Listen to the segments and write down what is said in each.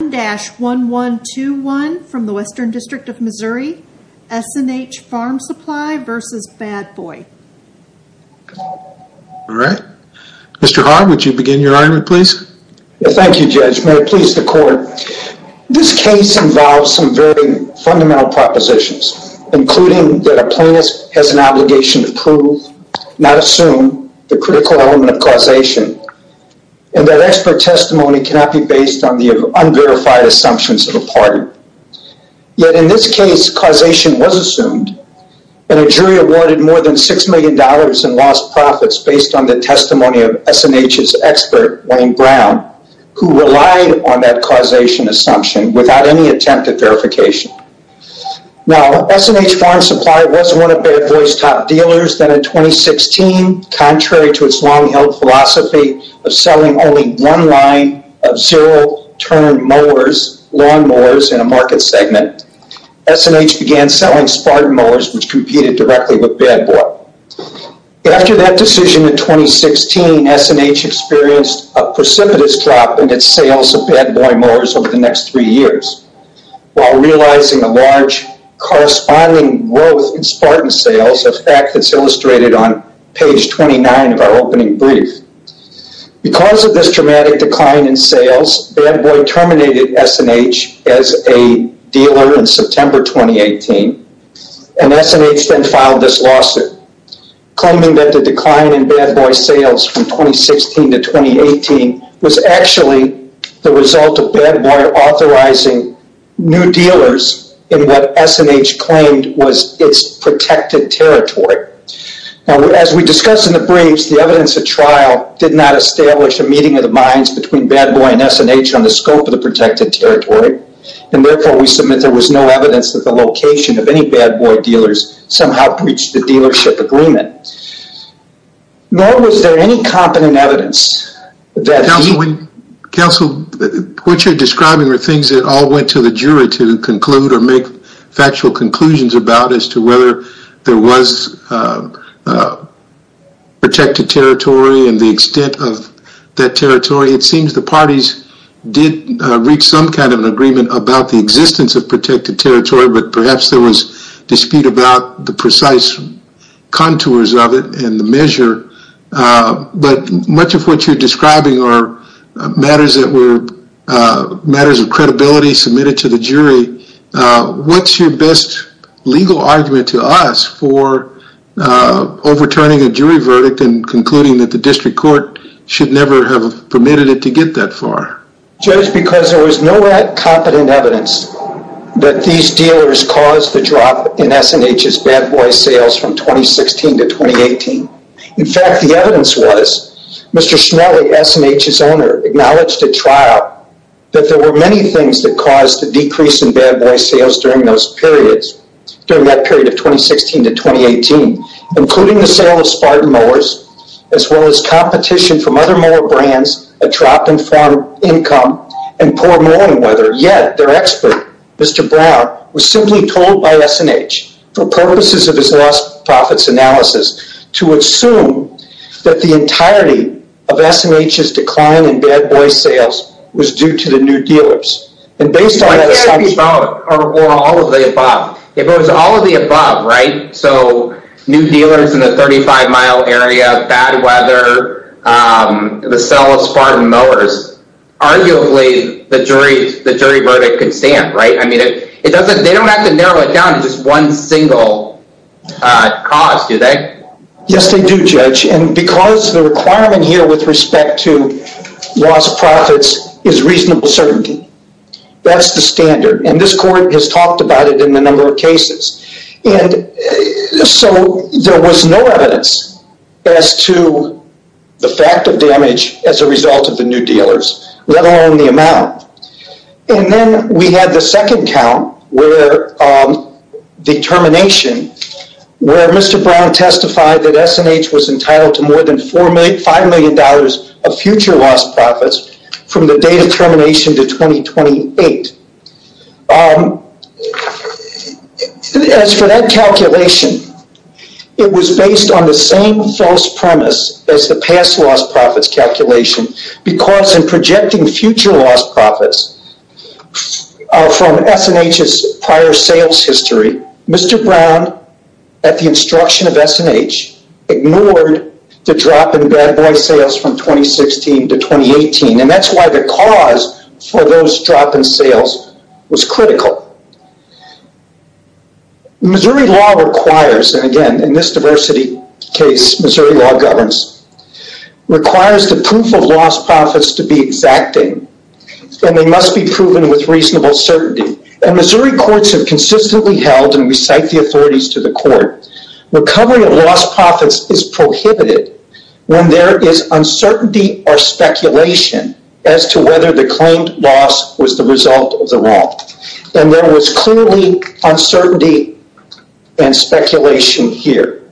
Mr. Hart, would you begin your argument please? Thank you, Judge. May it please the Court. This case involves some very fundamental propositions, including that a plaintiff has an obligation to prove, not assume, the critical element of causation, and that expert testimony cannot be based on the unverified assumptions of a party. Yet, in this case, causation was assumed, and a jury awarded more than $6 million in lost profits based on the testimony of S & H's expert, Wayne Brown, who relied on that causation assumption without any attempt at verification. Now, S & H Farm Supply was one of Bad Boy's top dealers, then in 2016, contrary to its long-held philosophy of selling only one line of zero-turn lawn mowers in a market segment, S & H began selling Spartan mowers, which competed directly with Bad Boy. After that decision in 2016, S & H experienced a precipitous drop in its sales of Bad Boy mowers over the next three years, while realizing a large corresponding growth in Spartan sales, a fact that's illustrated on page 29 of our opening brief. Because of this dramatic decline in sales, Bad Boy terminated S & H as a dealer in September 2018, and S & H then filed this lawsuit, claiming that the decline in Bad Boy sales from 2016 to 2018 was actually the Now, as we discussed in the briefs, the evidence at trial did not establish a meeting of the minds between Bad Boy and S & H on the scope of the protected territory, and therefore we submit there was no evidence that the location of any Bad Boy dealers somehow breached the dealership agreement. Nor was there any competent evidence that the... Counsel, what you're describing are things that all went to the jury to conclude or make factual conclusions about as to whether there was protected territory and the extent of that territory. It seems the parties did reach some kind of an agreement about the existence of protected territory, but perhaps there was dispute about the precise contours of it and the measure. But much of what you're describing are matters that were matters of best legal argument to us for overturning a jury verdict and concluding that the district court should never have permitted it to get that far. Judge, because there was no competent evidence that these dealers caused the drop in S & H's Bad Boy sales from 2016 to 2018. In fact, the evidence was Mr. Schnelli, S & H's owner, acknowledged at trial that there were many things that caused the decrease in Bad Boy sales during that period of 2016 to 2018, including the sale of Spartan mowers, as well as competition from other mower brands that dropped in farm income and poor mowing weather. Yet, their expert, Mr. Brown, was simply told by S & H for purposes of his lost profits analysis to assume that the entirety of S & H's decline in Bad Boy sales was due to the new dealers. I think I'd be wrong, or all of the above. If it was all of the above, right, so new dealers in the 35 mile area, bad weather, the sale of Spartan mowers, arguably the jury verdict could stand, right? I mean, they don't have to narrow it down to just one single cause, do they? Yes, they do, Judge. And because the requirement here with respect to lost profits is reasonable certainty. That's the standard. And this court has talked about it in a number of cases. And so there was no evidence as to the fact of damage as a result of the new dealers, let alone the amount. And then we had the second count where the termination, where Mr. Brown testified that S & H was entitled to more than $5 million of future lost profits from the date of termination to 2028. As for that calculation, it was based on the same false premise as the past lost profits calculation, because in projecting future lost profits from S & H's prior sales history, Mr. Brown, at the instruction of S & H, ignored the drop in bad boy sales from 2016 to 2018. And that's why the cause for those drop in sales was critical. Missouri law requires, and again, in this diversity case, Missouri law governs, requires the proof of lost profits to be exacting. And they must be proven with reasonable certainty. And Missouri courts have consistently held, and we cite the authorities to the court, recovery of lost profits is prohibited when there is uncertainty or speculation as to whether the claimed loss was the result of the wrong. And there was clearly uncertainty and speculation here.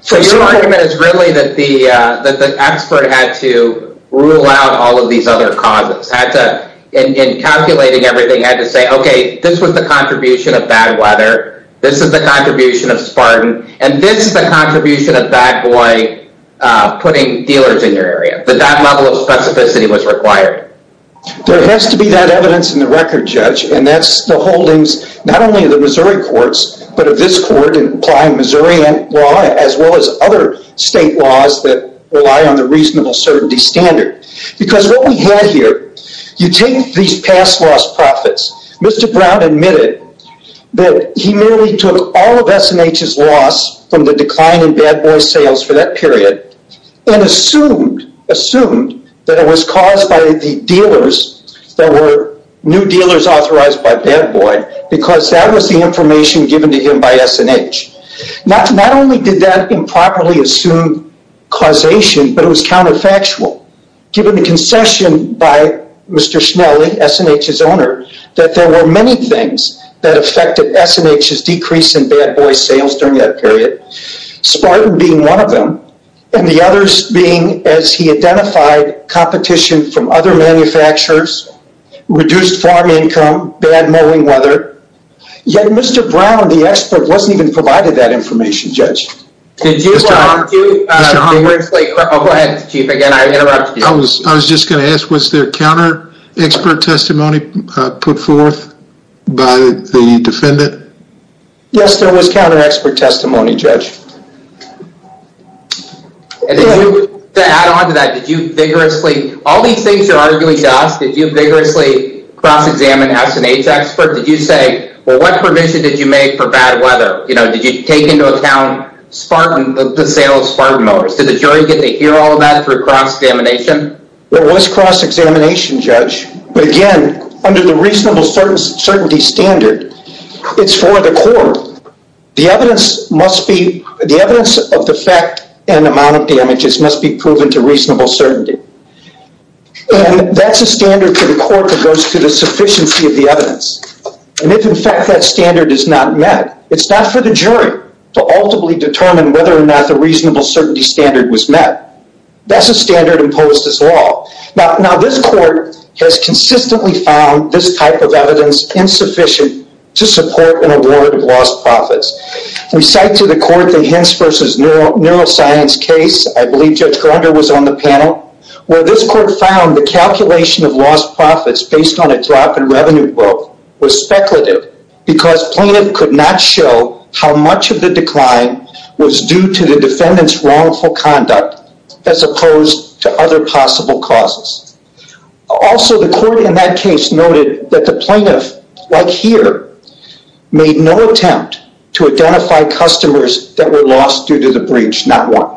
So your argument is really that the expert had to rule out all of these other causes, had to, in calculating everything, had to say, okay, this was the contribution of bad weather. This is the contribution of Spartan. And this is the contribution of bad boy putting dealers in your area. But that level of specificity was required. There has to be that evidence in the record, Judge. And that's the holdings, not only of the Missouri courts, but of this court in applying Missouri law, as well as other state laws that rely on the reasonable certainty standard. Because what we He merely took all of S&H's loss from the decline in bad boy sales for that period, and assumed, assumed that it was caused by the dealers that were new dealers authorized by bad boy, because that was the information given to him by S&H. Not only did that improperly assume causation, but it was counterfactual. Given the concession by Mr. Schnelli, S&H's owner, that there were many things that affected S&H's decrease in bad boy sales during that period. Spartan being one of them, and the others being, as he identified, competition from other manufacturers, reduced farm income, bad mowing weather. Yet, Mr. Brown, the expert, wasn't even provided that information, Judge. Did you want to- Mr. Honkwood? Mr. Honkwood? Go ahead, Chief. Again, I interrupted you. I was just going to ask, was there counter-expert testimony put forth by the defendant? Yes, there was counter-expert testimony, Judge. To add on to that, did you vigorously- all these things you're arguing, Josh, did you vigorously cross-examine S&H expert? Did you say, well, what provision did you make for bad weather? Did you take into account the sale of Spartan mowers? Did the jury get to hear all of that through cross-examination? There was cross-examination, Judge. But again, under the reasonable certainty standard, it's for the court. The evidence must be- the evidence of the fact and amount of damages must be proven to reasonable certainty. And that's a standard for the court that goes to the sufficiency of the evidence. And if, in fact, that standard is not met, it's not for the jury to ultimately determine whether or not the reasonable certainty standard was met. That's a standard imposed as law. Now, this court has consistently found this type of evidence insufficient to support an award of lost profits. We cite to the court the Hintz v. Neuroscience case. I believe Judge Gardner was on the panel, where this court found the calculation of lost profits based on a drop in revenue book was speculative because plaintiff could not show how much of the decline was due to the defendant's wrongful conduct as opposed to other possible causes. Also, the court in that case noted that the plaintiff, like here, made no attempt to identify customers that were lost due to the breach, not one.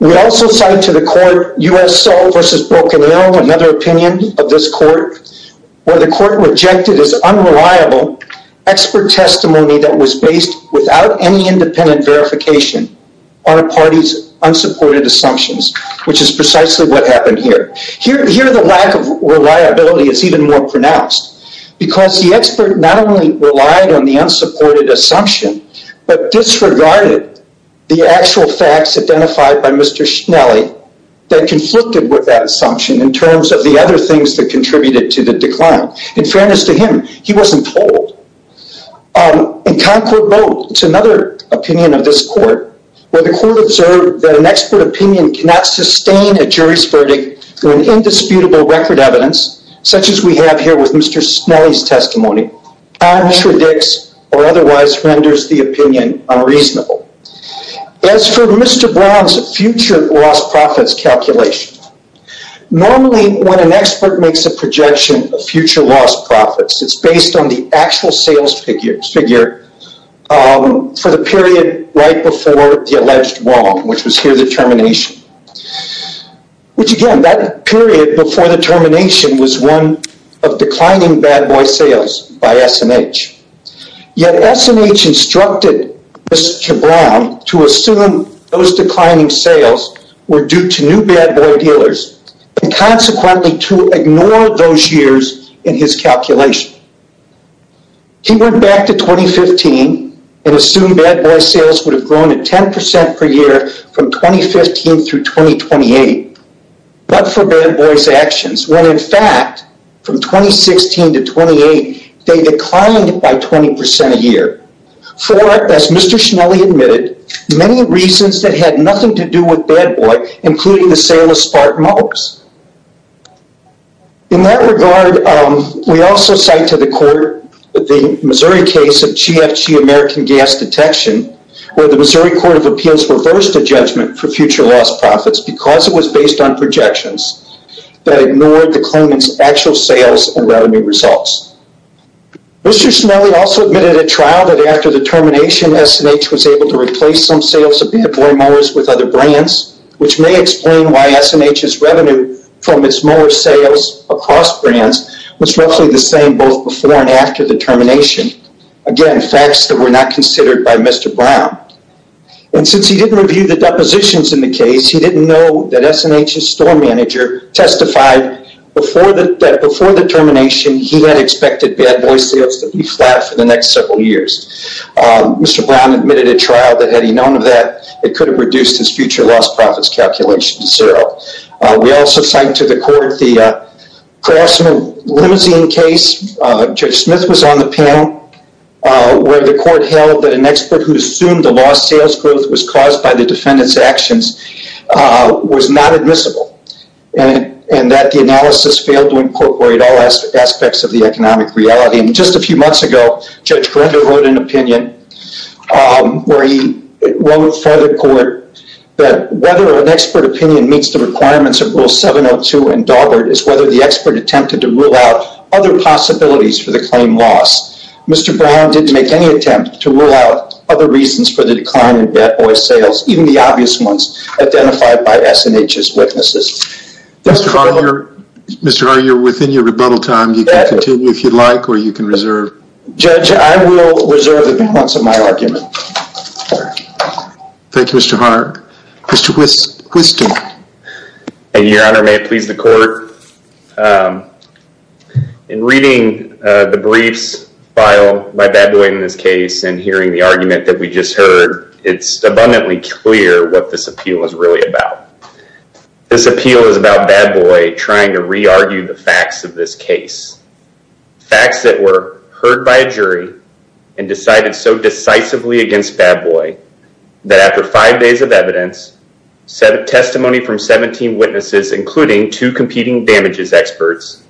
We also cite to the court USO v. Broken Hill, another opinion of this court, where the court rejected as unreliable expert testimony that was based without any independent verification on a party's unsupported assumptions, which is precisely what happened here. Here, the lack of reliability is even more pronounced because the expert not only relied on the unsupported assumption, but disregarded the actual facts identified by Mr. Schnelli that conflicted with that assumption in terms of the other things that contributed to the decline. In fairness to him, he wasn't told. In Concord Boat, another opinion of this court, where the court observed that an expert opinion cannot sustain a jury's verdict through an indisputable record evidence, such as we have here with Mr. Schnelli's testimony, contradicts or otherwise renders the opinion unreasonable. As for Mr. Brown's future lost profits calculation, normally when an expert makes a projection of future lost profits, it's based on the actual sales figure for the period right before the alleged wrong, which was here the termination. Which again, that period before the termination was one of declining bad boy sales by S&H. Yet S&H instructed Mr. Brown to assume those declining sales were due to new bad boy dealers and consequently to ignore those years in his calculation. He went back to 2015 and assumed bad boy sales would have grown at 10% per year from 2015 through 2028. But for bad boy's actions, when in fact, from 2016 to 2028, they declined by 20% a year. For, as Mr. Schnelli admitted, many reasons that had nothing to do with bad boy, including the sale of spark mugs. In that regard, we also cite to the court the Missouri case of GFG American Gas Detection, where the Missouri Court of Appeals reversed a judgment for future lost profits because it was based on projections that ignored the claimant's actual sales and revenue results. Mr. Schnelli also admitted at trial that after the termination, S&H was able to replace some sales of bad boy mowers with other brands, which may explain why S&H's revenue from its mower sales across brands was roughly the same both before and after the termination. Again, facts that were not considered by Mr. Brown. And since he didn't review the depositions in the case, he didn't know that S&H's store manager testified that before the termination, he had expected bad boy sales to be flat for the next several years. Mr. Brown admitted at trial that had he known of that, it could have reduced his future lost profits calculation to zero. We also cite to the court the Carlson Limousine case. Judge Smith was on the panel where the court held that an expert who assumed the lost sales growth was caused by the defendant's actions was not admissible and that the analysis failed to incorporate all aspects of the economic reality. Just a few months ago, Judge Correndo wrote an opinion where he wrote for the court that whether an expert opinion meets the requirements of Rule 702 and Daubert is whether the expert attempted to rule out other possibilities for the claim loss. Mr. Brown didn't make any attempt to rule out other reasons for the decline in bad boy sales, even the obvious ones identified by S&H's witnesses. Mr. Hart, you're within your rebuttal time. You can continue if you'd like or you can reserve. Judge, I will reserve the balance of my argument. Thank you, Mr. Hart. Mr. Whiston. Thank you, Your Honor. May it please the court. In reading the briefs file by bad boy in this case and hearing the argument that we just heard, it's abundantly clear what this appeal is really about. This appeal is about bad boy trying to re-argue the facts of this case. Facts that were heard by a jury and decided so decisively against bad boy that after five days of evidence, testimony from 17 witnesses, including two competing damages experts,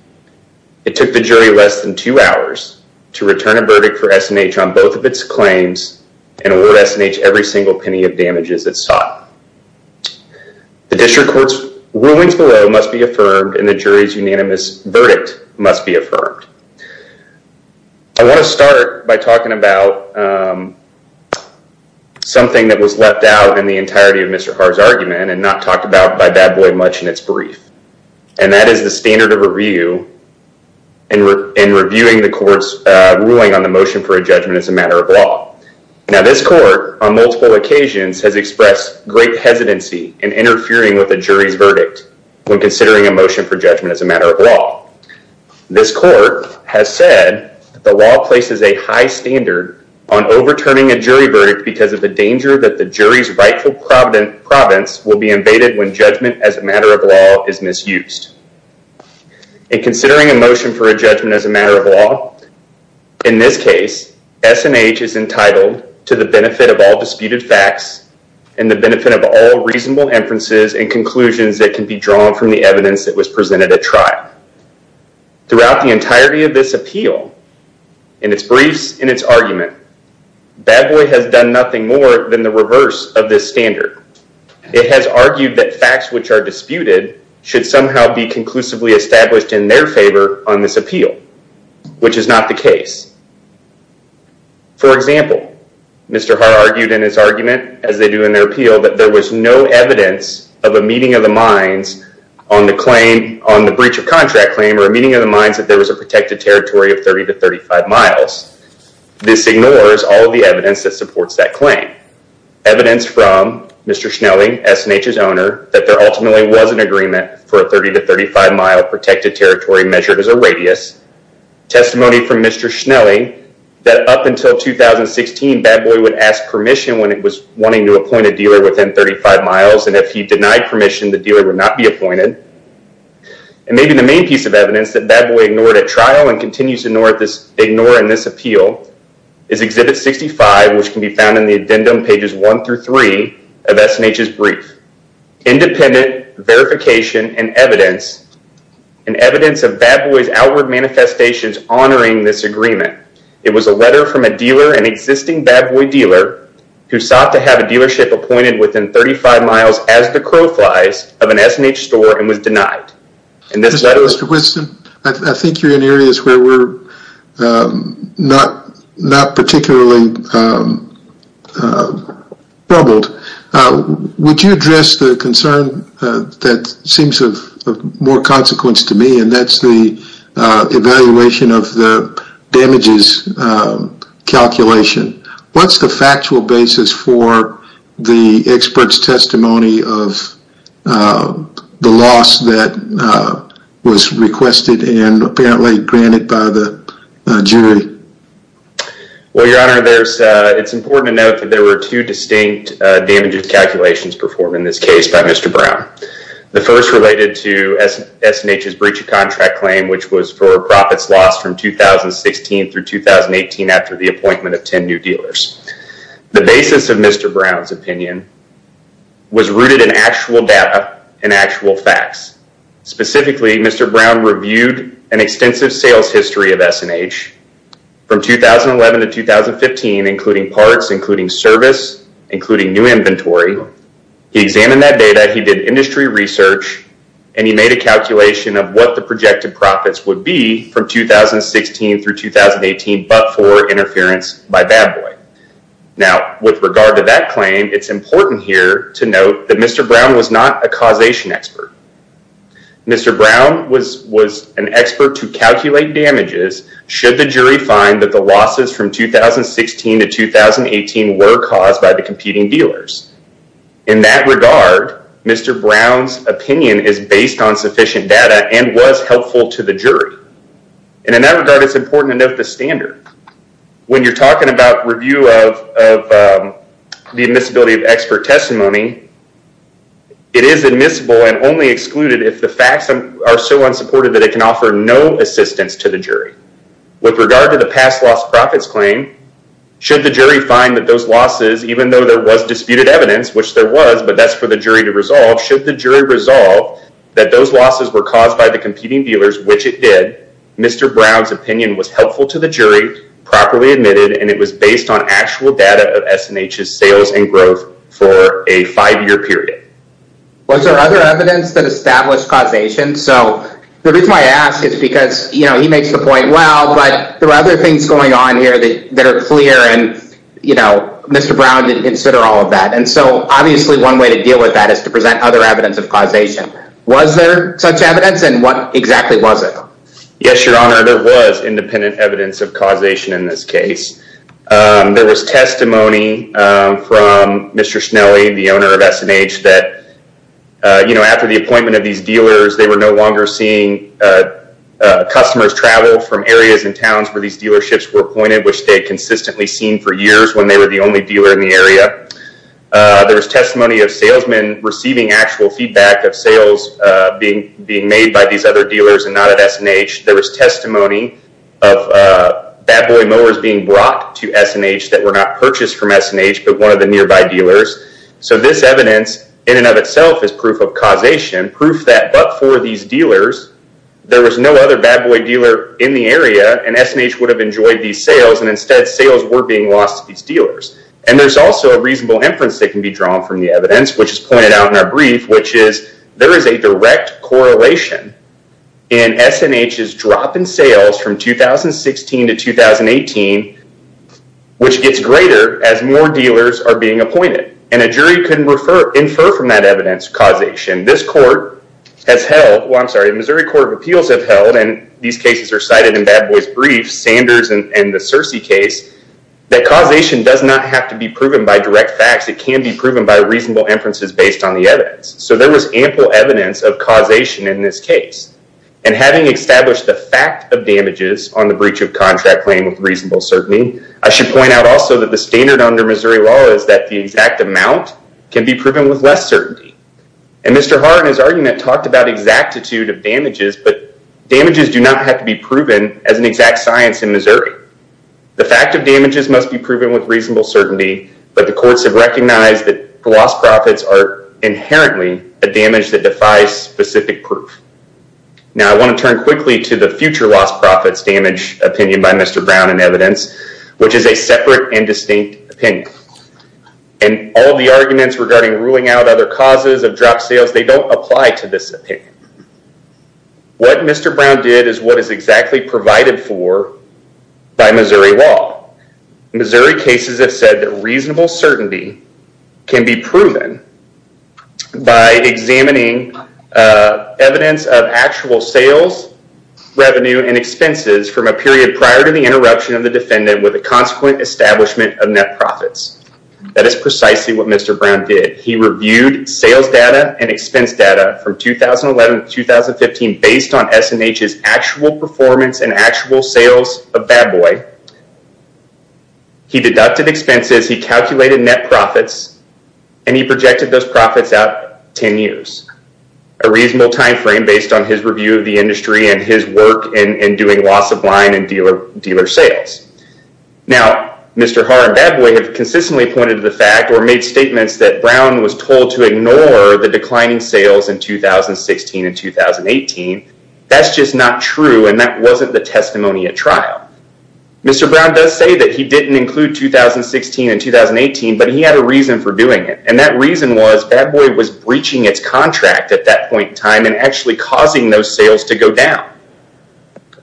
it took the jury less than two hours to return a verdict for S&H on both of its claims and award S&H every single penny of damages it sought. The district court's rulings below must be affirmed and the jury's unanimous verdict must be affirmed. I want to start by talking about something that was left out in the entirety of Mr. Hart's argument and not talked about by bad boy much in its brief. And that is the standard of review in reviewing the court's ruling on the motion for a judgment as a matter of law. Now this court on multiple occasions has expressed great hesitancy in interfering with a jury's verdict when considering a motion for judgment as a matter of law. This court has said the law places a high standard on overturning a jury verdict because of the danger that the jury's rightful province will be invaded when judgment as a matter of law is misused. In considering a motion for a judgment as a matter of law, in this case, S&H is entitled to the benefit of all disputed facts and the benefit of all reasonable inferences and conclusions that can be drawn from the evidence that was presented at trial. Throughout the entirety of this appeal, in its briefs, in its argument, bad boy has done nothing more than the reverse of this standard. It has argued that facts which are disputed should somehow be conclusively established in their favor on this appeal, which is not the case. For example, Mr. Hart argued in his argument, as they do in their appeal, that there was no evidence of a meeting of the minds on the breach of contract claim or a meeting of the minds that there was a protected territory of 30 to 35 miles. This ignores all of the evidence that supports that claim. Evidence from Mr. Schnelli, S&H's owner, that there ultimately was an agreement for a 30 to 35 mile protected territory measured as a radius. Testimony from Mr. Schnelli that up until 2016, bad boy would ask permission when it was wanting to appoint a dealer within 35 miles, and if he denied permission, the dealer would not be appointed. Maybe the main piece of evidence that bad boy ignored at trial and continues to ignore in this appeal is exhibit 65, which can be found in the addendum pages 1 through 3 of S&H's brief. Independent verification and evidence of bad boy's outward manifestations honoring this agreement. It was a letter from a dealer, an existing bad boy dealer, who sought to have a dealership appointed within 35 miles as the crow flies of an S&H store and was denied. In this letter... Mr. Whitson, I think you're in areas where we're not particularly troubled. Would you address the concern that seems of more consequence to me, and that's the evaluation of the damages calculation. What's the factual basis for the expert's testimony of the loss that was requested and apparently granted by the jury? Well, your honor, it's important to note that there were two distinct damages calculations performed in this case by Mr. Brown. The first related to S&H's breach of contract claim, which was for profits lost from 2016 through 2018 after the appointment of 10 new dealers. The basis of Mr. Brown's opinion was rooted in actual data and actual facts. Specifically, Mr. Brown reviewed an extensive sales history of S&H from 2011 to 2015, including parts, including service, including new inventory. He examined that data, he did industry research, and he made a calculation of what the projected profits would be from 2016 through 2018 but for interference by bad boy. Now, with regard to that claim, it's important here to note that Mr. Brown was not a causation expert. Mr. Brown was an expert to calculate damages should the jury find that the losses from 2016 to 2018 were caused by the competing dealers. In that regard, Mr. Brown's opinion is based on sufficient data and was helpful to the jury. And in that regard, it's important to note the standard. When you're talking about review of the admissibility of expert testimony, it is admissible and only excluded if the facts are so unsupported that it can offer no assistance to the jury. With regard to the past loss profits claim, should the jury find that those losses, even though there was disputed evidence, which there was, but that's for the jury to resolve, should the jury resolve that those losses were caused by the competing dealers, which it did, Mr. Brown's opinion was helpful to the jury, properly admitted, and it was based on actual data of S&H's sales and growth for a five-year period. Was there other evidence that established causation? So the reason I ask is because, you know, he makes the point, well, but there are other things going on here that are clear, and, you know, Mr. Brown didn't consider all of that. And so, obviously, one way to deal with that is to present other evidence of causation. Was there such evidence, and what exactly was it? Yes, Your Honor, there was independent evidence of causation in this case. There was testimony from Mr. Schnelly, the owner of S&H, that, you know, after the appointment of these dealers, they were no longer seeing customers travel from areas and towns where these dealerships were appointed, which they had consistently seen for years when they were the only dealer in the area. There was testimony of salesmen receiving actual feedback of sales being made by these other dealers and not at S&H. There was testimony of Bad Boy mowers being brought to S&H that were not purchased from S&H, but one of the nearby dealers. So this evidence, in and of itself, is proof of causation, proof that, but for these dealers, there was no other Bad Boy dealer in the area, and S&H would have enjoyed these sales, and instead, sales were being lost to these dealers. And there's also a reasonable inference that can be drawn from the evidence, which is pointed out in our brief, which is there is a direct correlation in S&H's drop in sales from 2016 to 2018, which gets greater as more dealers are being appointed. And a jury can infer from that evidence causation. This court has held, well, I'm sorry, the Missouri Court of Appeals have held, and these cases are cited in Bad Boy's brief, Sanders and the Searcy case, that causation does not have to be proven by direct facts. It can be proven by reasonable inferences based on the evidence. So there was ample evidence of causation in this case. And having established the fact of damages on the breach of contract claim with reasonable certainty, I should point out also that the standard under Missouri law is that the exact amount can be proven with less certainty. And Mr. Hart in his argument talked about exactitude of damages, but damages do not have to be proven as an exact science in Missouri. The fact of damages must be proven with reasonable certainty, but the courts have recognized that the lost profits are inherently a damage that defies specific proof. Now, I want to turn quickly to the future lost profits damage opinion by Mr. Brown in evidence, which is a separate and distinct opinion. And all the arguments regarding ruling out other causes of drop sales, they don't apply to this opinion. What Mr. Brown did is what is exactly provided for by Missouri law. Missouri cases have said that reasonable certainty can be proven by examining evidence of actual sales, revenue, and expenses from a period prior to the interruption of the defendant with a consequent establishment of net profits. That is precisely what Mr. Brown did. He reviewed sales data and expense data from 2011 to 2015 based on S&H's actual performance and actual sales of Bad Boy. He deducted expenses, he calculated net profits, and he projected those profits out 10 years. A reasonable time frame based on his review of the industry and his work in doing loss of line and dealer sales. Now, Mr. Haar and Bad Boy have consistently pointed to the fact or made statements that Brown was told to ignore the declining sales in 2016 and 2018. That's just not true, and that wasn't the testimony at trial. Mr. Brown does say that he didn't include 2016 and 2018, but he had a reason for doing it. And that reason was Bad Boy was breaching its contract at that point in time and actually causing those sales to go down.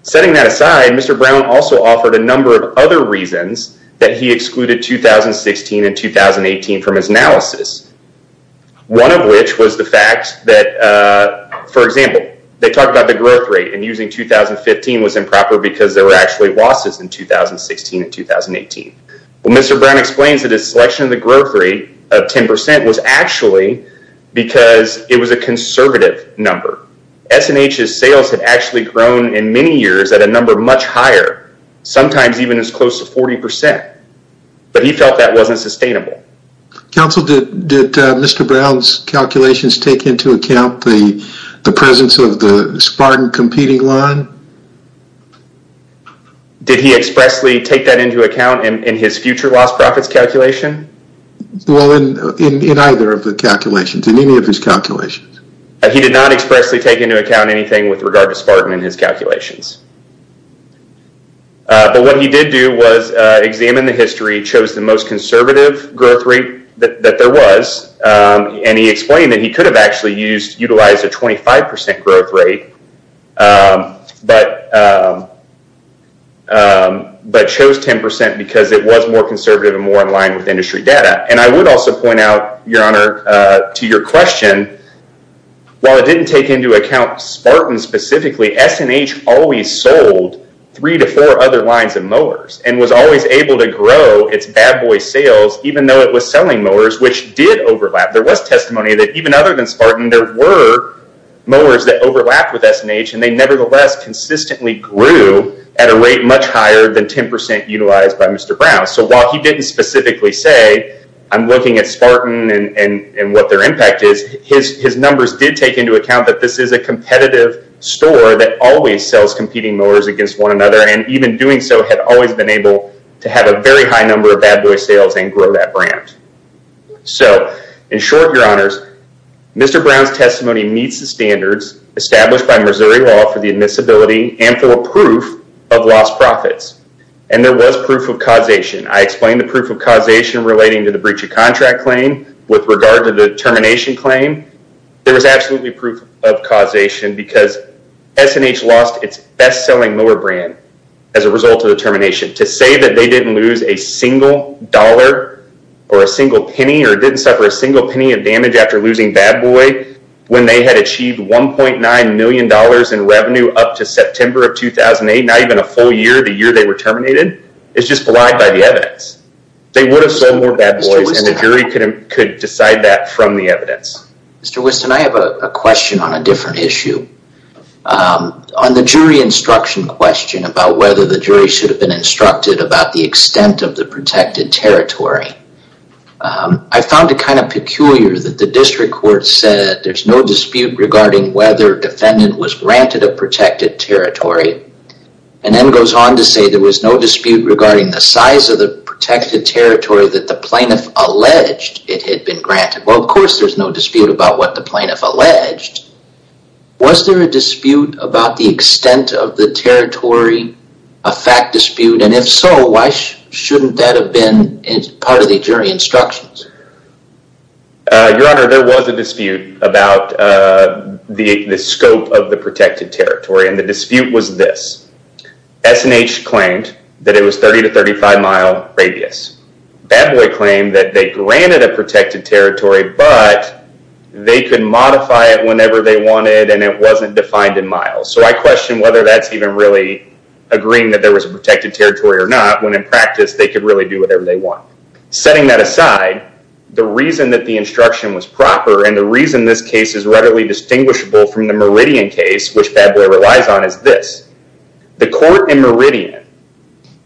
Setting that aside, Mr. Brown also offered a number of other reasons that he excluded 2016 and 2018 from his analysis. One of which was the fact that, for example, they talked about the growth rate and using 2015 was improper because there were actually losses in 2016 and 2018. Well, Mr. Brown explains that his selection of the growth rate of 10% was actually because it was a conservative number. S&H's sales had actually grown in many years at a number much higher, sometimes even as close to 40%, but he felt that wasn't sustainable. Counsel, did Mr. Brown's calculations take into account the presence of the Spartan competing line? Did he expressly take that into account in his future loss profits calculation? Well, in either of the calculations, in any of his calculations. He did not expressly take into account anything with regard to Spartan in his calculations. But what he did do was examine the history, chose the most conservative growth rate that there was, and he explained that he could have actually utilized a 25% growth rate but chose 10% because it was more conservative and more in line with industry data. I would also point out, Your Honor, to your question, while it didn't take into account Spartan specifically, S&H always sold three to four other lines of mowers and was always able to grow its bad boy sales even though it was selling mowers, which did overlap. There was testimony that even other than Spartan, there were mowers that overlapped with S&H and they nevertheless consistently grew at a rate much higher than 10% utilized by Mr. Brown. While he didn't specifically say, I'm looking at Spartan and what their impact is, his numbers did take into account that this is a competitive store that always sells competing mowers against one another and even doing so had always been able to have a very high number of bad boy sales and grow that brand. In short, Your Honors, Mr. Brown's testimony meets the standards established by Missouri law for the admissibility and for a proof of lost profits, and there was proof of causation. I explained the proof of causation relating to the breach of contract claim with regard to the termination claim. There was absolutely proof of causation because S&H lost its best-selling mower brand as a result of the termination. To say that they didn't lose a single dollar or a single penny or didn't suffer a single penny of damage after losing Bad Boy when they had achieved $1.9 million in revenue up to September of 2008, not even a full year, the year they were terminated, is just flagged by the evidence. They would have sold more Bad Boys and the jury could decide that from the evidence. Mr. Whiston, I have a question on a different issue. On the jury instruction question about whether the jury should have been instructed about the extent of the protected territory, I found it kind of peculiar that the district court said there's no dispute regarding whether defendant was granted a protected territory and then goes on to say there was no dispute regarding the size of the protected territory that the plaintiff alleged it had been granted. Well, of course there's no dispute about what the plaintiff alleged. Was there a dispute about the extent of the territory, a fact dispute? And if so, why shouldn't that have been part of the jury instructions? Your Honor, there was a dispute about the scope of the protected territory and the dispute was this. S&H claimed that it was 30 to 35 mile radius. Bad Boy claimed that they granted a protected territory, but they could modify it whenever they wanted and it wasn't defined in miles. So I question whether that's even really agreeing that there was a protected territory or not, when in practice they could really do whatever they want. Setting that aside, the reason that the instruction was proper and the reason this case is readily distinguishable from the Meridian case, which Bad Boy relies on, is this. The court in Meridian,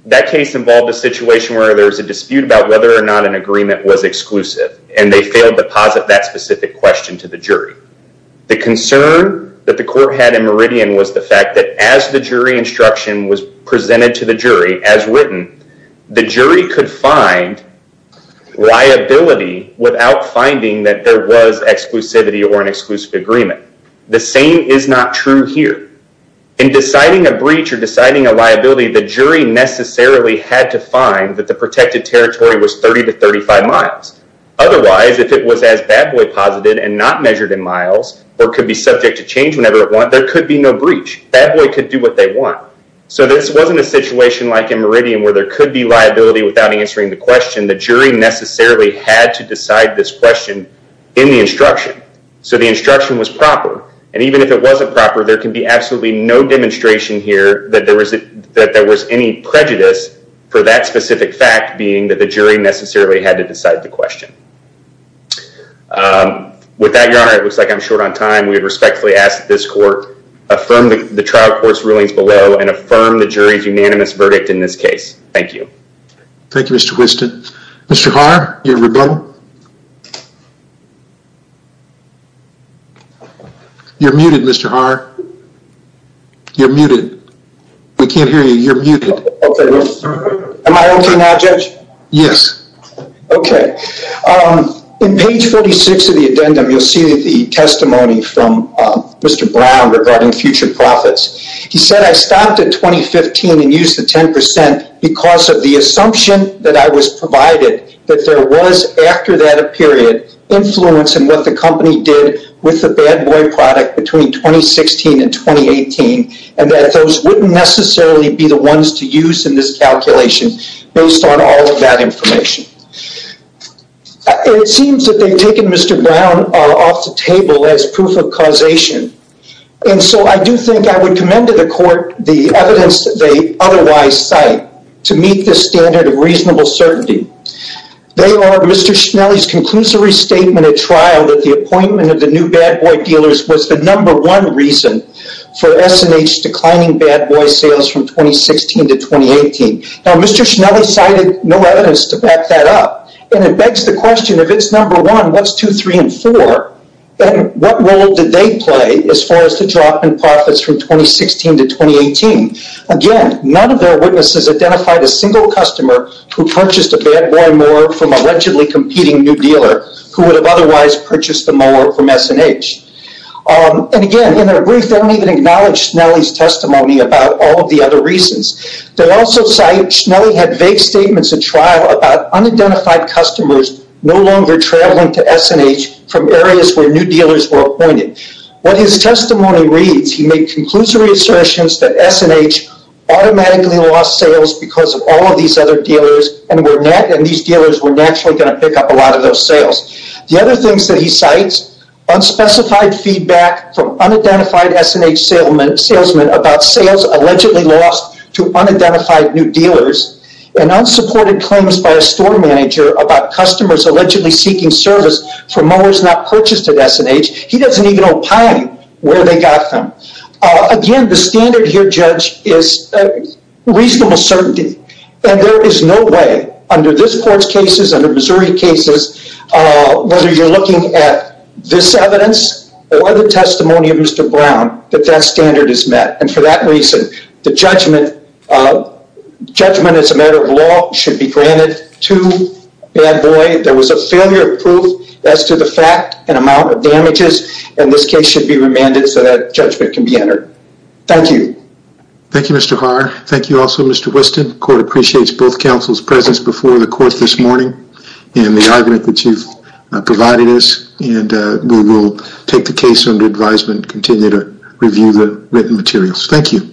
that case involved a situation where there was a dispute about whether or not an agreement was exclusive and they failed to posit that specific question to the jury. The concern that the court had in Meridian was the fact that as the jury instruction was presented to the jury as written, the jury could find liability without finding that there was exclusivity or an exclusive agreement. The same is not true here. In deciding a breach or deciding a liability, the jury necessarily had to find that the protected territory was 30 to 35 miles. Otherwise, if it was as Bad Boy posited and not measured in miles or could be subject to change whenever it wanted, there could be no breach. Bad Boy could do what they want. So this wasn't a situation like in Meridian where there could be liability without answering the question. The jury necessarily had to decide this question in the instruction. So the instruction was proper. And even if it wasn't proper, there can be absolutely no demonstration here that there was any prejudice for that specific fact being that the jury necessarily had to decide the question. With that, Your Honor, it looks like I'm short on time. We respectfully ask that this court affirm the trial court's rulings below and affirm the jury's unanimous verdict in this case. Thank you. Thank you, Mr. Whiston. Mr. Haar, your rebuttal. You're muted, Mr. Haar. You're muted. We can't hear you. You're muted. Okay. Am I okay now, Judge? Yes. Okay. In page 46 of the addendum, you'll see the testimony from Mr. Brown regarding future profits. He said, I stopped at 2015 and used the 10% because of the assumption that I was provided that there was, after that period, influence in what the company did with the Bad Boy product between 2016 and 2018 and that those wouldn't necessarily be the ones to use in this calculation based on all of that information. It seems that they've taken Mr. Brown off the table as proof of causation, and so I do think I would commend to the court the evidence that they otherwise cite to meet this standard of reasonable certainty. They are Mr. Schnelli's conclusory statement at trial that the appointment of the new Bad Boy dealers was the number one reason for S&H declining Bad Boy sales from 2016 to 2018. Now, Mr. Schnelli cited no evidence to back that up, and it begs the question, if it's number one, what's two, three, and four? What role did they play as far as the drop in profits from 2016 to 2018? Again, none of their witnesses identified a single customer who purchased a Bad Boy mower from a allegedly competing new dealer who would have otherwise purchased the mower from S&H. And again, in their brief, they don't even acknowledge Schnelli's testimony about all of the other reasons. They also cite Schnelli had vague statements at trial about unidentified customers no longer traveling to S&H from areas where new dealers were appointed. What his testimony reads, he made conclusory assertions that S&H automatically lost sales because of all of these other dealers, and these dealers were naturally going to pick up a lot of those sales. The other things that he cites, unspecified feedback from unidentified S&H salesmen about sales allegedly lost to unidentified new dealers, and unsupported claims by a store manager about customers allegedly seeking service for mowers not purchased at S&H, he doesn't even opine where they got them. Again, the standard here, Judge, is reasonable certainty. And there is no way, under this Court's cases, under Missouri cases, whether you're looking at this evidence or the testimony of Mr. Brown, that that standard is met. And for that reason, the judgment as a matter of law should be granted to Bad Boy. There was a failure of proof as to the fact and amount of damages, and this case should be remanded so that judgment can be entered. Thank you. Thank you, Mr. Haar. Thank you also, Mr. Whiston. The Court appreciates both counsel's presence before the Court this morning and the argument that you've provided us, and we will take the case under advisement and continue to review the written materials. Thank you.